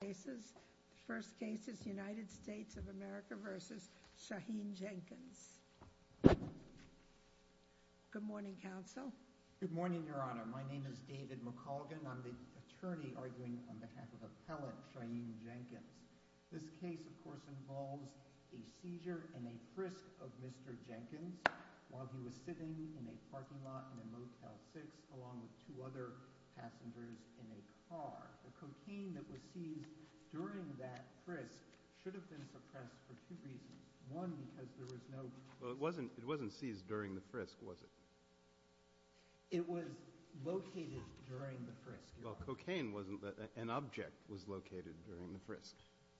cases. The first case is United States of America v. Shaheen Jenkins. Good morning, counsel. Good morning, Your Honor. My name is David McColgan. I'm the attorney arguing on behalf of appellate training Jenkins. This case, of course, involves a seizure and a frisk of Mr Jenkins while he was sitting in a parking lot in a car. The cocaine that was seized during that frisk should have been suppressed for two reasons. One, because there was no... Well, it wasn't it wasn't seized during the frisk, was it? It was located during the frisk, Your Honor. Well, cocaine wasn't... an object was located during the frisk.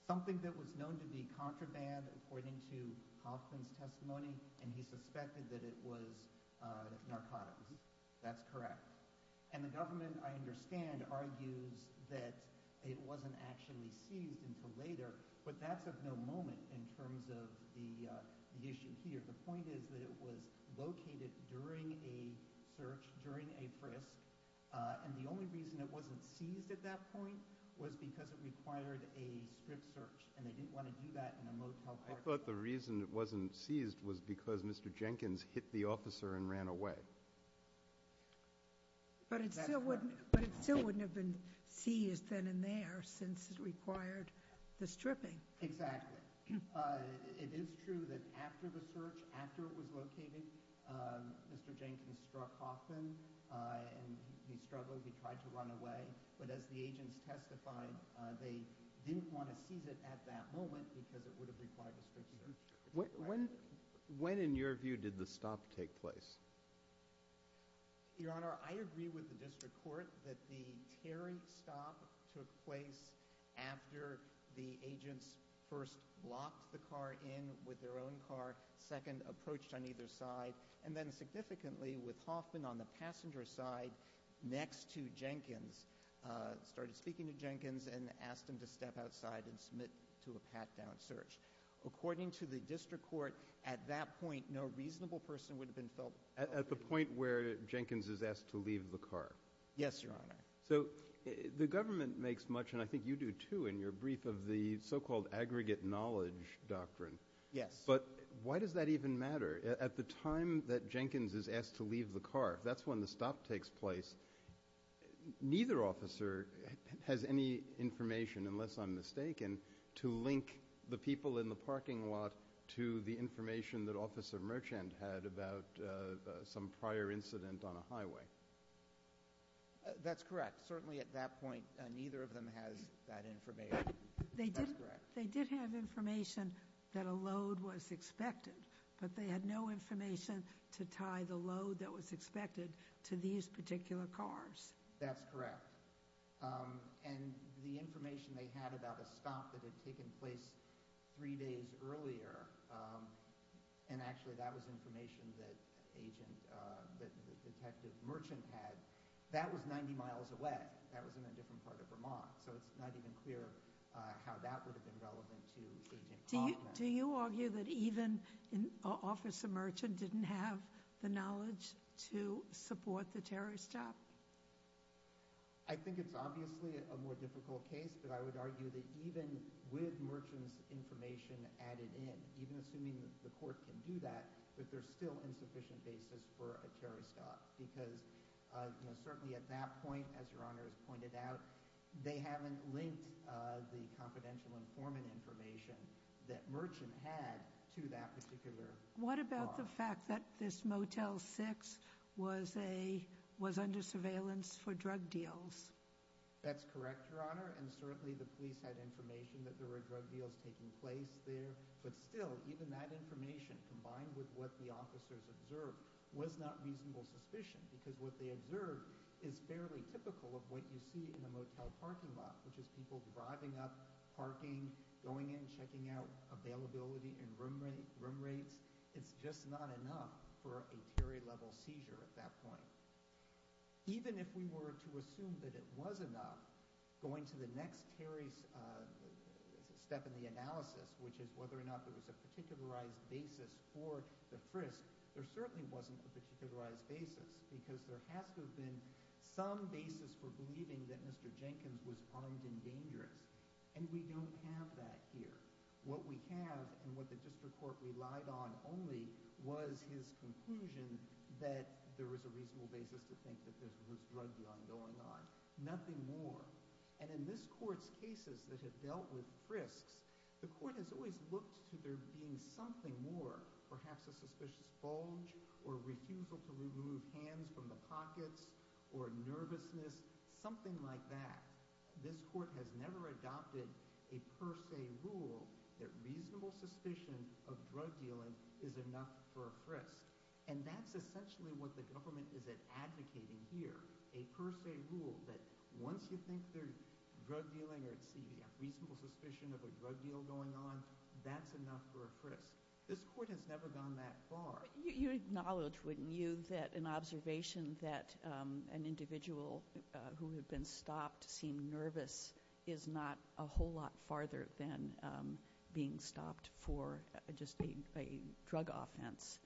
Something that was known to be contraband, according to Hoffman's testimony, and he suspected that it was narcotics. That's correct. And the other thing is that the prosecution argues that it wasn't actually seized until later, but that's of no moment in terms of the issue here. The point is that it was located during a search, during a frisk, and the only reason it wasn't seized at that point was because it required a strict search, and they didn't want to do that in a motel parking lot. I thought the reason it wasn't seized was because Mr. Jenkins hit the officer and ran away. But it still wouldn't have been seized. then and there since it required the stripping. Exactly. It is true that after the search, after it was located, Mr. Jenkins struck Hoffman, and he struggled, he tried to run away, but as the agents testified, they didn't want to seize it at that moment because it would have required a strict search. When in your view did the stop take place? Your point is that every stop took place after the agents first locked the car in with their own car, second approached on either side, and then significantly with Hoffman on the passenger side next to Jenkins, started speaking to Jenkins and asked him to step outside and submit to a pat-down search. According to the district court, at that point, no reasonable person would have been felt guilty. At the point where Jenkins is asked to leave the car. Yes, your honor. So the government makes much, and I think you do too, in your brief of the so-called aggregate knowledge doctrine. Yes. But why does that even matter? At the time that Jenkins is asked to leave the car, that's when the stop takes place. That's correct. Certainly at that point, neither of them has that information. That's correct. But they did have information that a load was expected, but they had no information to tie the load that was expected to these particular cars. That's correct. And the information they had about a stop that had taken place three days earlier, and actually that was information that agent, that Detective Merchant had, that was 90 miles away. That was in a different part of Vermont, so it's not even clear how that would have been relevant to Agent Hoffman. Do you argue that even Officer Merchant didn't have the knowledge to support the terrorist stop? I think it's obviously a more difficult case, but I would argue that even with Merchant's information added in, even assuming the court can do that, that there's still insufficient basis for a terrorist stop. Because certainly at that point, as your honor has pointed out, they haven't linked the confidential informant information that Merchant had to that particular car. What about the fact that this Motel 6 was under surveillance for drug deals? That's correct, your honor. And certainly the police had information that there were drug deals taking place there. But still, even that information, combined with what the officers observed, was not reasonable suspicion. Because what they observed is fairly typical of what you see in a motel parking lot, which is people driving up, parking, going in, checking out availability and room rates. It's just not enough for a Terry-level seizure at that point. Even if we were to assume that it was enough, going to the next Terry step in the analysis, which is whether or not there was a particularized basis for the frisk, there certainly wasn't a particularized basis. Because there has to have been some basis for believing that Mr. Jenkins was armed and dangerous. And we don't have that here. What we have, and what the district court relied on only, was his conclusion that there was a reasonable basis to think that there was drug dealing going on. Nothing more. And in this court's cases that have dealt with frisks, the court has always looked to there being something more. Perhaps a suspicious bulge, or refusal to remove hands from the pockets, or nervousness, something like that. This court has never adopted a per se rule that reasonable suspicion of drug dealing is enough for a frisk. And that's essentially what the government is advocating here. A per se rule that once you think there's reasonable suspicion of a drug deal going on, that's enough for a frisk. This court has never gone that far. You acknowledge, wouldn't you, that an observation that an individual who had been stopped seemed nervous is not a whole lot farther than being stopped for just a drug offense.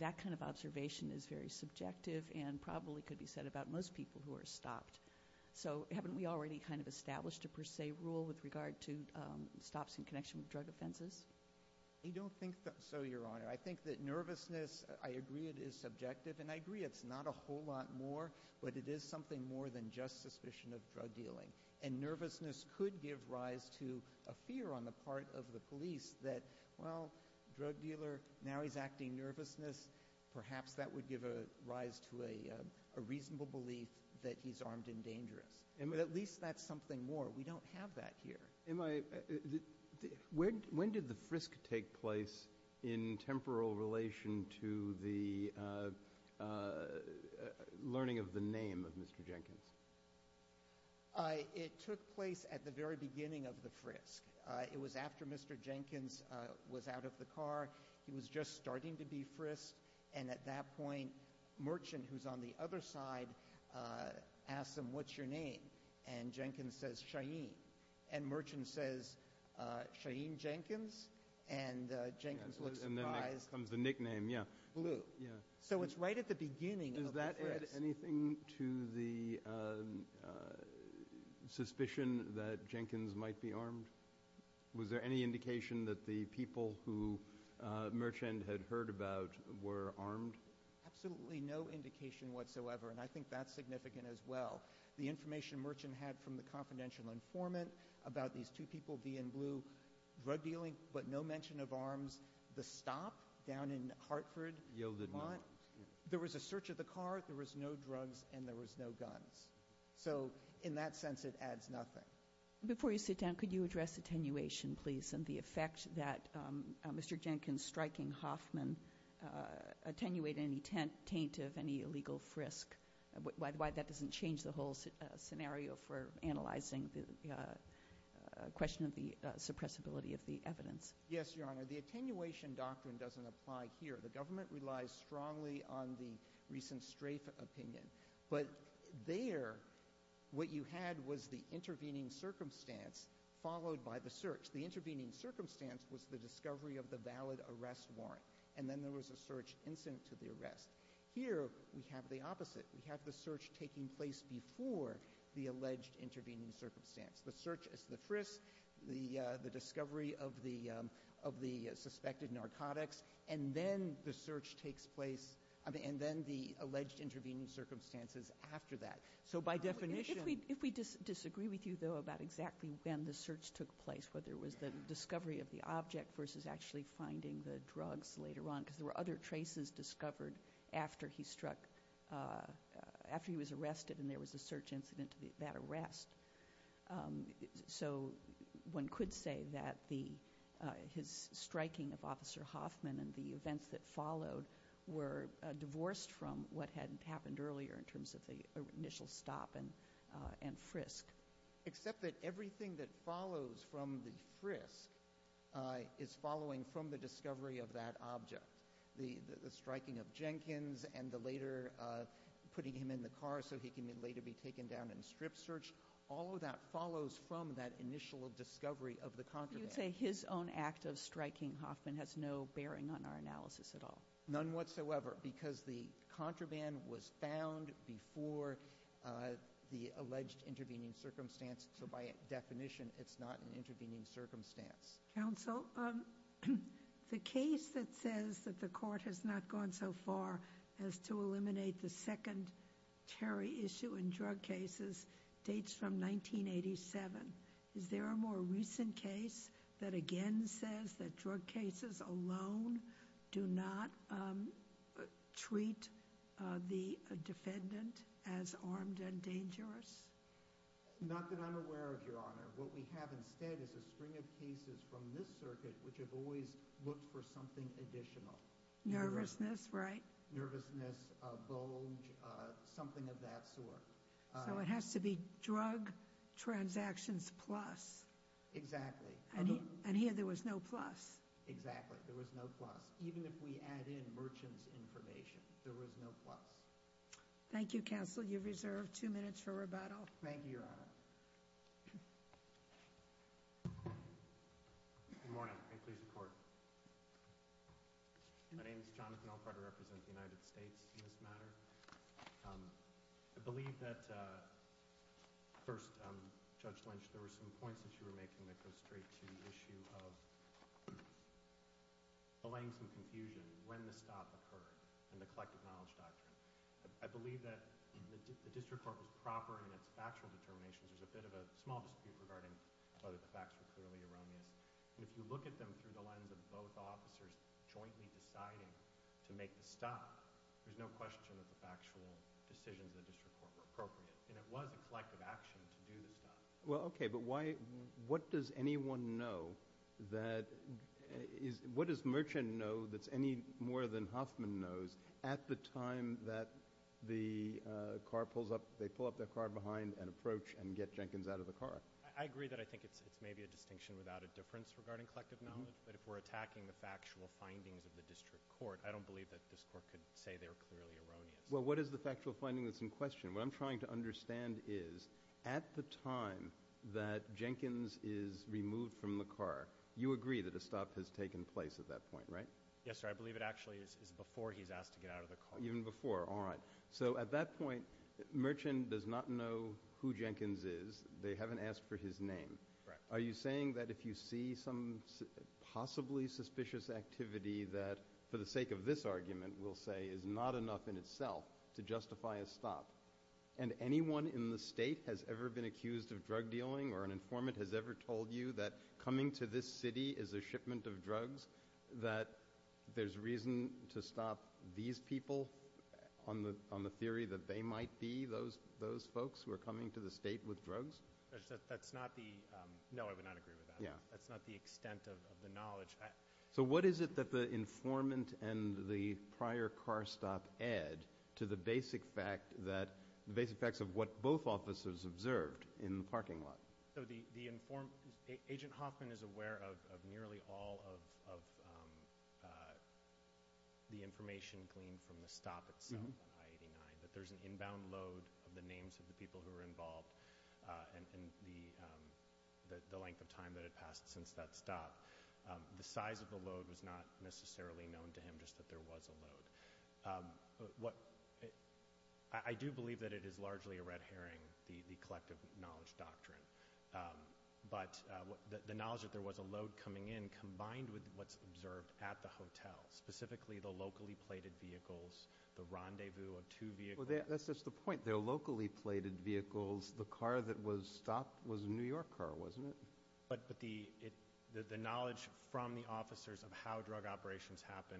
That kind of observation is very subjective and probably could be said about most people who are stopped. So haven't we already kind of established a per se rule with regard to stops in connection with drug offenses? I don't think so, Your Honor. I think that nervousness, I agree it is subjective, and I agree it's not a whole lot more, but it is something more than just suspicion of drug dealing. And nervousness could give rise to a fear on the part of the police that, well, drug dealer, now he's acting nervousness, perhaps that would give rise to a reasonable belief that he's armed and dangerous. At least that's something more. We don't have that here. When did the frisk take place in temporal relation to the learning of the name of Mr. Jenkins? It took place at the very beginning of the frisk. It was after Mr. Jenkins was out of the car. He was just starting to be frisked, and at that point, Merchant, who's on the other side, asked him, what's your name? And Jenkins says, Shaheen. And Merchant says, Shaheen Jenkins? And Jenkins looks surprised. And then comes the nickname, yeah. Blue. Yeah. So it's right at the beginning of the frisk. Did that add anything to the suspicion that Jenkins might be armed? Was there any indication that the people who Merchant had heard about were armed? Absolutely no indication whatsoever, and I think that's significant as well. The information Merchant had from the confidential informant about these two people, V and Blue, drug dealing, but no mention of arms. The stop down in Hartford, Vermont, there was a search of the car, there was no drugs, and there was no guns. So in that sense, it adds nothing. Before you sit down, could you address attenuation, please, and the effect that Mr. Jenkins striking Hoffman attenuated any taint of any illegal frisk? Why that doesn't change the whole scenario for analyzing the question of the suppressibility of the evidence. Yes, Your Honor. The attenuation doctrine doesn't apply here. The government relies strongly on the recent Strafe opinion. But there, what you had was the intervening circumstance followed by the search. The intervening circumstance was the discovery of the valid arrest warrant, and then there was a search incident to the arrest. Here, we have the opposite. We have the search taking place before the alleged intervening circumstance. The search is the frisk, the discovery of the suspected narcotics, and then the search takes place, and then the alleged intervening circumstances after that. So by definition — If we disagree with you, though, about exactly when the search took place, whether it was the discovery of the object versus actually finding the drugs later on, because there were other traces discovered after he was arrested and there was a search incident to that arrest. So one could say that his striking of Officer Hoffman and the events that followed were divorced from what had happened earlier in terms of the initial stop and frisk. Except that everything that follows from the frisk is following from the discovery of that object. The striking of Jenkins and the later putting him in the car so he can later be taken down in strip search, all of that follows from that initial discovery of the contraband. You would say his own act of striking Hoffman has no bearing on our analysis at all? None whatsoever, because the contraband was found before the alleged intervening circumstance. So by definition, it's not an intervening circumstance. Counsel, the case that says that the Court has not gone so far as to eliminate the second Terry issue in drug cases dates from 1987. Is there a more recent case that again says that drug cases alone do not treat the defendant as armed and dangerous? Not that I'm aware of, Your Honor. What we have instead is a string of cases from this circuit which have always looked for something additional. Nervousness, right? Nervousness, bulge, something of that sort. So it has to be drug transactions plus. Exactly. And here there was no plus. Exactly, there was no plus. Even if we add in merchant's information, there was no plus. Thank you, Counsel. You're reserved two minutes for rebuttal. Thank you, Your Honor. Good morning. May it please the Court. My name is Jonathan Alfred. I represent the United States in this matter. I believe that first, Judge Lynch, there were some points that you were making that go straight to the issue of allaying some confusion. When the stop occurred and the collective knowledge doctrine. I believe that the district court was proper in its factual determinations. There's a bit of a small dispute regarding whether the facts were clearly erroneous. And if you look at them through the lens of both officers jointly deciding to make the stop, there's no question that the factual decisions of the district court were appropriate. And it was a collective action to do the stop. Well, okay, but what does Merchant know that's any more than Hoffman knows at the time that they pull up their car behind and approach and get Jenkins out of the car? I agree that I think it's maybe a distinction without a difference regarding collective knowledge. But if we're attacking the factual findings of the district court, I don't believe that this court could say they were clearly erroneous. Well, what is the factual finding that's in question? What I'm trying to understand is at the time that Jenkins is removed from the car, you agree that a stop has taken place at that point, right? Yes, sir. I believe it actually is before he's asked to get out of the car. Even before. All right. So at that point, Merchant does not know who Jenkins is. They haven't asked for his name. Correct. Are you saying that if you see some possibly suspicious activity that, for the sake of this argument, we'll say is not enough in itself to justify a stop, and anyone in the state has ever been accused of drug dealing or an informant has ever told you that coming to this city is a shipment of drugs, that there's reason to stop these people on the theory that they might be those folks who are coming to the state with drugs? No, I would not agree with that. That's not the extent of the knowledge. So what is it that the informant and the prior car stop add to the basic facts of what both officers observed in the parking lot? Agent Hoffman is aware of nearly all of the information gleaned from the stop itself on I-89, that there's an inbound load of the names of the people who were involved and the length of time that had passed since that stop. The size of the load was not necessarily known to him, just that there was a load. I do believe that it is largely a red herring, the collective knowledge doctrine, but the knowledge that there was a load coming in combined with what's observed at the hotel, specifically the locally plated vehicles, the rendezvous of two vehicles. Well, that's just the point. They're locally plated vehicles. The car that was stopped was a New York car, wasn't it? But the knowledge from the officers of how drug operations happen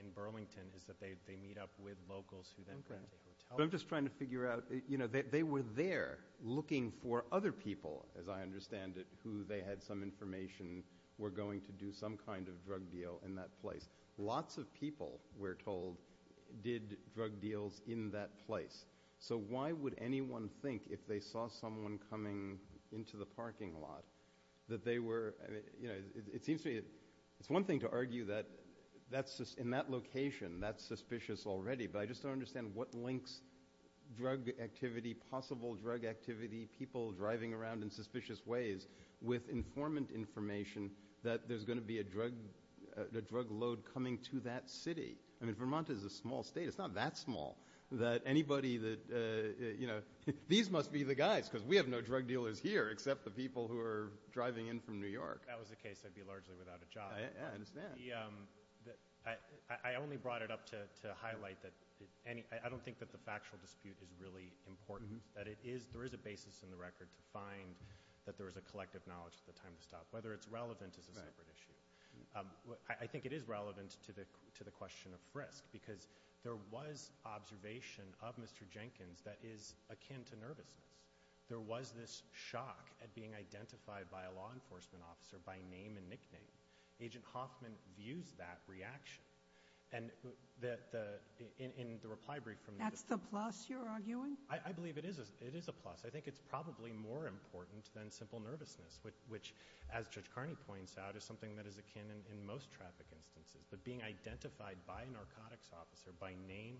in Burlington is that they meet up with locals who then rent a hotel. But I'm just trying to figure out, you know, they were there looking for other people, as I understand it, who they had some information were going to do some kind of drug deal in that place. Lots of people, we're told, did drug deals in that place. So why would anyone think, if they saw someone coming into the parking lot, that they were, you know, it seems to me it's one thing to argue that in that location that's suspicious already, but I just don't understand what links drug activity, possible drug activity, people driving around in suspicious ways with informant information that there's going to be a drug load coming to that city. I mean, Vermont is a small state. It's not that small that anybody that, you know, these must be the guys because we have no drug dealers here except the people who are driving in from New York. If that was the case, I'd be largely without a job. I understand. I only brought it up to highlight that I don't think that the factual dispute is really important, that there is a basis in the record to find that there is a collective knowledge at the time to stop. Whether it's relevant is a separate issue. I think it is relevant to the question of frisk because there was observation of Mr. Jenkins that is akin to nervousness. There was this shock at being identified by a law enforcement officer by name and nickname. Agent Hoffman views that reaction. And in the reply brief from the- That's the plus you're arguing? I believe it is a plus. I think it's probably more important than simple nervousness, which, as Judge Carney points out, is something that is akin in most traffic instances. But being identified by a narcotics officer by name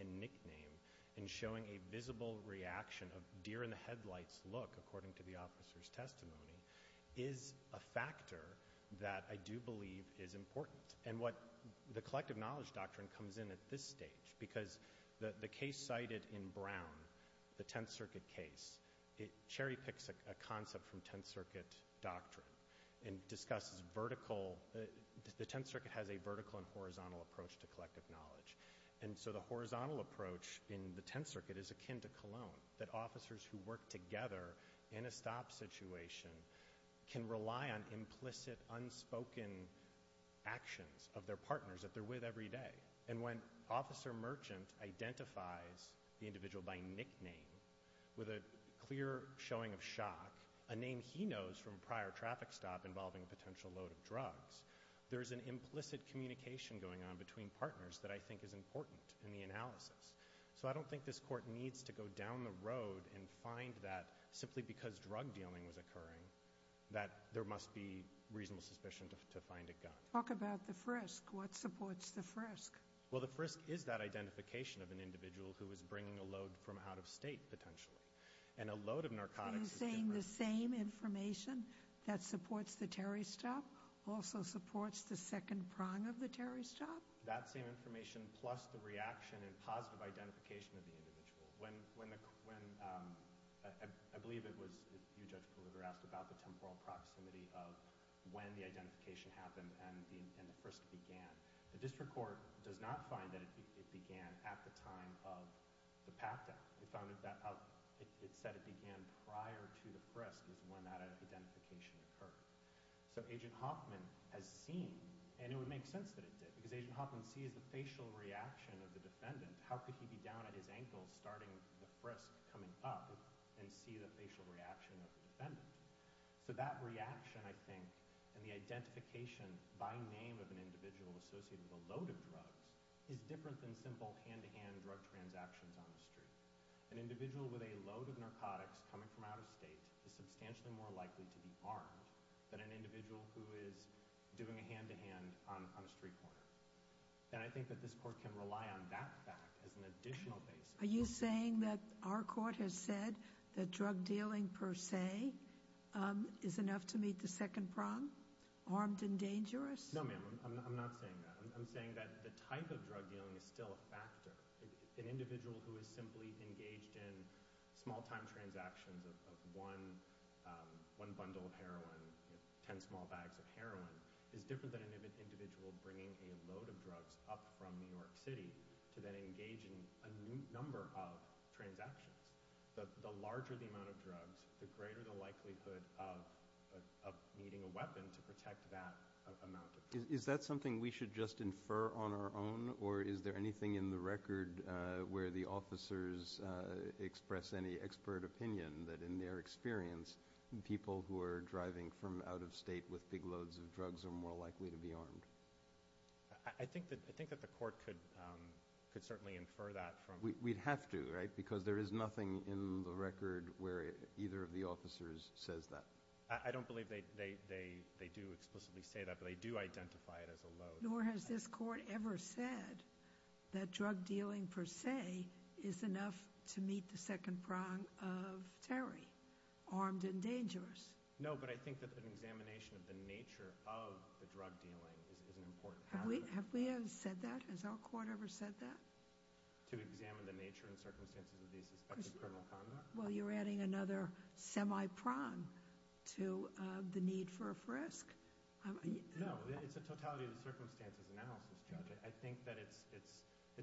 and nickname and showing a visible reaction of deer-in-the-headlights look, according to the officer's testimony, is a factor that I do believe is important. And what the collective knowledge doctrine comes in at this stage, because the case cited in Brown, the Tenth Circuit case, it cherry-picks a concept from Tenth Circuit doctrine and discusses vertical- the Tenth Circuit has a vertical and horizontal approach to collective knowledge. And so the horizontal approach in the Tenth Circuit is akin to Cologne, that officers who work together in a stop situation can rely on implicit, unspoken actions of their partners that they're with every day. And when Officer Merchant identifies the individual by nickname with a clear showing of shock, a name he knows from a prior traffic stop involving a potential load of drugs, there's an implicit communication going on between partners that I think is important in the analysis. So I don't think this Court needs to go down the road and find that, simply because drug dealing was occurring, that there must be reasonable suspicion to find a gun. Talk about the frisk. What supports the frisk? Well, the frisk is that identification of an individual who is bringing a load from out-of-state, potentially. And a load of narcotics- Are you saying the same information that supports the Terry stop also supports the second prong of the Terry stop? That same information, plus the reaction and positive identification of the individual. I believe it was you, Judge Pulliver, asked about the temporal proximity of when the identification happened and the frisk began. The District Court does not find that it began at the time of the path death. It said it began prior to the frisk is when that identification occurred. So Agent Hoffman has seen, and it would make sense that it did, because Agent Hoffman sees the facial reaction of the defendant. How could he be down at his ankles starting the frisk coming up and see the facial reaction of the defendant? So that reaction, I think, and the identification by name of an individual associated with a load of drugs is different than simple hand-to-hand drug transactions on the street. An individual with a load of narcotics coming from out-of-state is substantially more likely to be armed than an individual who is doing a hand-to-hand on a street corner. And I think that this court can rely on that fact as an additional basis. Are you saying that our court has said that drug dealing per se is enough to meet the second prong, armed and dangerous? No, ma'am, I'm not saying that. I'm saying that the type of drug dealing is still a factor. An individual who is simply engaged in small-time transactions of one bundle of heroin, 10 small bags of heroin, is different than an individual bringing a load of drugs up from New York City to then engage in a number of transactions. The larger the amount of drugs, the greater the likelihood of needing a weapon to protect that amount of drugs. Is that something we should just infer on our own, or is there anything in the record where the officers express any expert opinion that in their experience people who are driving from out-of-state with big loads of drugs are more likely to be armed? I think that the court could certainly infer that. We'd have to, right, because there is nothing in the record where either of the officers says that. I don't believe they do explicitly say that, but they do identify it as a load. Nor has this court ever said that drug dealing per se is enough to meet the second prong of Terry, armed and dangerous. No, but I think that an examination of the nature of the drug dealing is an important factor. Have we ever said that? Has our court ever said that? To examine the nature and circumstances of these suspected criminal conduct? Well, you're adding another semi-prong to the need for a frisk. No, it's a totality of the circumstances analysis, Judge. I think that it's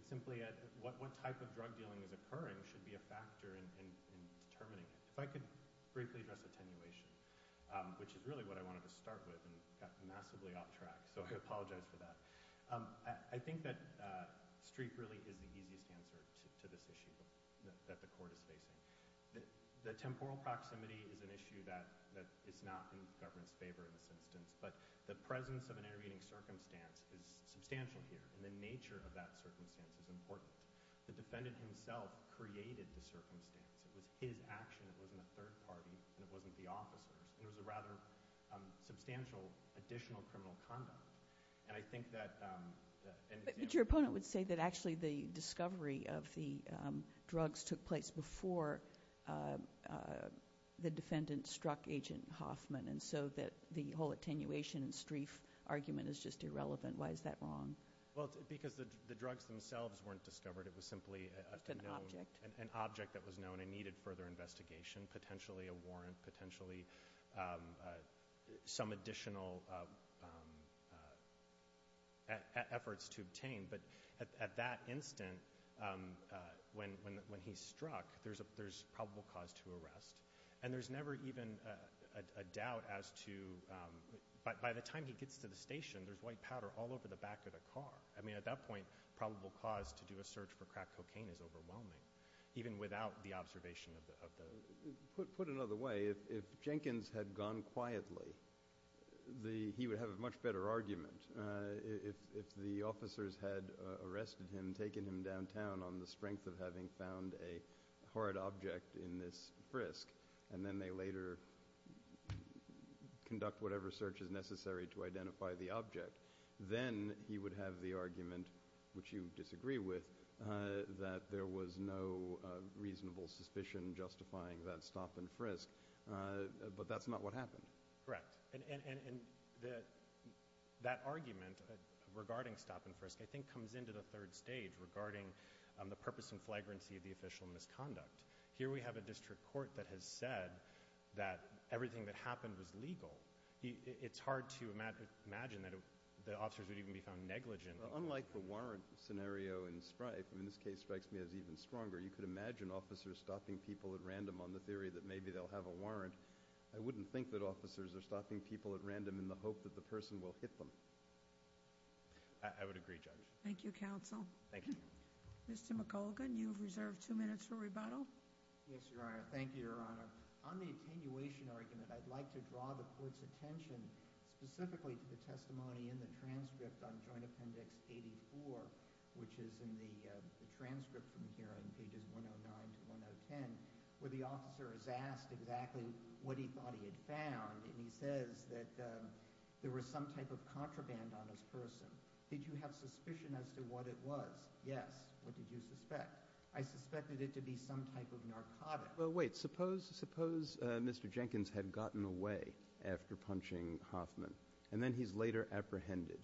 simply what type of drug dealing is occurring should be a factor in determining it. If I could briefly address attenuation, which is really what I wanted to start with and got massively off track, so I apologize for that. I think that Streep really is the easiest answer to this issue that the court is facing. The temporal proximity is an issue that is not in the government's favor in this instance, but the presence of an intervening circumstance is substantial here, and the nature of that circumstance is important. The defendant himself created the circumstance. It was his action. It wasn't a third party, and it wasn't the officer's. It was a rather substantial additional criminal conduct. But your opponent would say that actually the discovery of the drugs took place before the defendant struck Agent Hoffman, and so that the whole attenuation and Streep argument is just irrelevant. Why is that wrong? Because the drugs themselves weren't discovered. It was simply an object that was known and needed further investigation, potentially a warrant, potentially some additional efforts to obtain. But at that instant, when he struck, there's probable cause to arrest, and there's never even a doubt as to, by the time he gets to the station, there's white powder all over the back of the car. I mean, at that point, probable cause to do a search for crack cocaine is overwhelming, even without the observation of the— Put another way, if Jenkins had gone quietly, he would have a much better argument. If the officers had arrested him, taken him downtown on the strength of having found a hard object in this frisk, and then they later conduct whatever search is necessary to identify the object, then he would have the argument, which you disagree with, that there was no reasonable suspicion justifying that stop and frisk. But that's not what happened. Correct. And that argument regarding stop and frisk I think comes into the third stage regarding the purpose and flagrancy of the official misconduct. Here we have a district court that has said that everything that happened was legal. It's hard to imagine that the officers would even be found negligent. Unlike the warrant scenario in Spryfe, and this case strikes me as even stronger, you could imagine officers stopping people at random on the theory that maybe they'll have a warrant. I wouldn't think that officers are stopping people at random in the hope that the person will hit them. I would agree, Judge. Thank you, Counsel. Thank you. Mr. McColgan, you have reserved two minutes for rebuttal. Yes, Your Honor. Thank you, Your Honor. On the attenuation argument, I'd like to draw the court's attention specifically to the testimony in the transcript on Joint Appendix 84, which is in the transcript from here on pages 109 to 110, where the officer is asked exactly what he thought he had found, and he says that there was some type of contraband on his person. Did you have suspicion as to what it was? Yes. What did you suspect? I suspected it to be some type of narcotic. Well, wait. Suppose Mr. Jenkins had gotten away after punching Hoffman, and then he's later apprehended.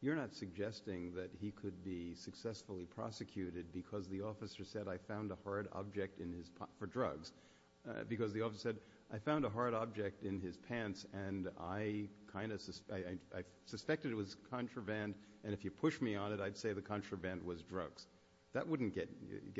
You're not suggesting that he could be successfully prosecuted because the officer said, I found a hard object in his pants for drugs, because the officer said, I found a hard object in his pants, and I suspected it was contraband, and if you push me on it, I'd say the contraband was drugs. That wouldn't get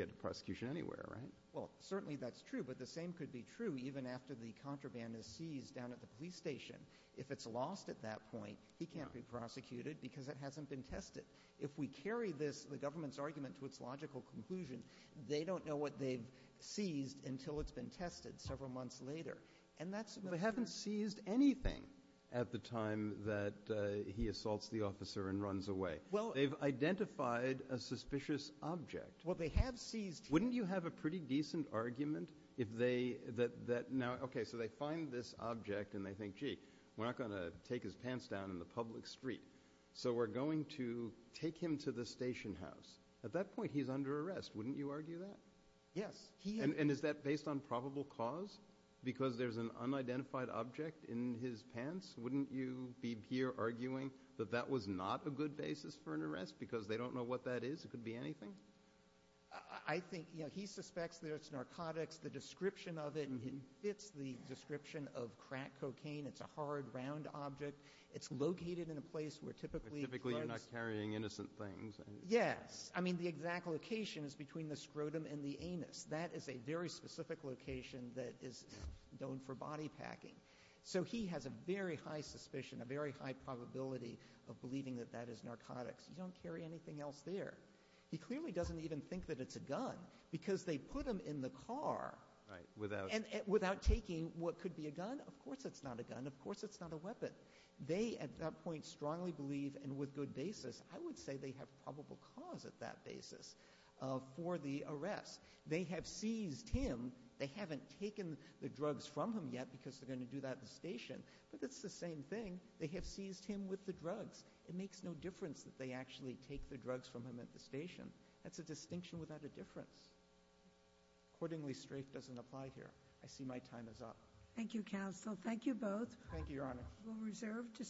to prosecution anywhere, right? Well, certainly that's true, but the same could be true even after the contraband is seized down at the police station. If it's lost at that point, he can't be prosecuted because it hasn't been tested. If we carry this, the government's argument, to its logical conclusion, they don't know what they've seized until it's been tested several months later. And that's a matter of ---- But they haven't seized anything at the time that he assaults the officer and runs away. Well ---- They've identified a suspicious object. Well, they have seized ---- Wouldn't you have a pretty decent argument if they ---- Okay, so they find this object and they think, gee, we're not going to take his pants down in the public street, so we're going to take him to the station house. At that point, he's under arrest. Wouldn't you argue that? Yes. And is that based on probable cause, because there's an unidentified object in his pants? Wouldn't you be here arguing that that was not a good basis for an arrest because they don't know what that is? It could be anything? I think, you know, he suspects that it's narcotics. The description of it fits the description of crack cocaine. It's a hard, round object. It's located in a place where typically drugs ---- But typically you're not carrying innocent things. Yes. I mean, the exact location is between the scrotum and the anus. That is a very specific location that is known for body packing. So he has a very high suspicion, a very high probability of believing that that is narcotics. You don't carry anything else there. He clearly doesn't even think that it's a gun because they put him in the car. Right, without ---- Without taking what could be a gun. Of course it's not a gun. Of course it's not a weapon. They, at that point, strongly believe, and with good basis, I would say they have probable cause at that basis for the arrest. They have seized him. They haven't taken the drugs from him yet because they're going to do that at the station. But it's the same thing. They have seized him with the drugs. It makes no difference that they actually take the drugs from him at the station. That's a distinction without a difference. Accordingly, strafe doesn't apply here. I see my time is up. Thank you, counsel. Thank you both. Thank you, Your Honor.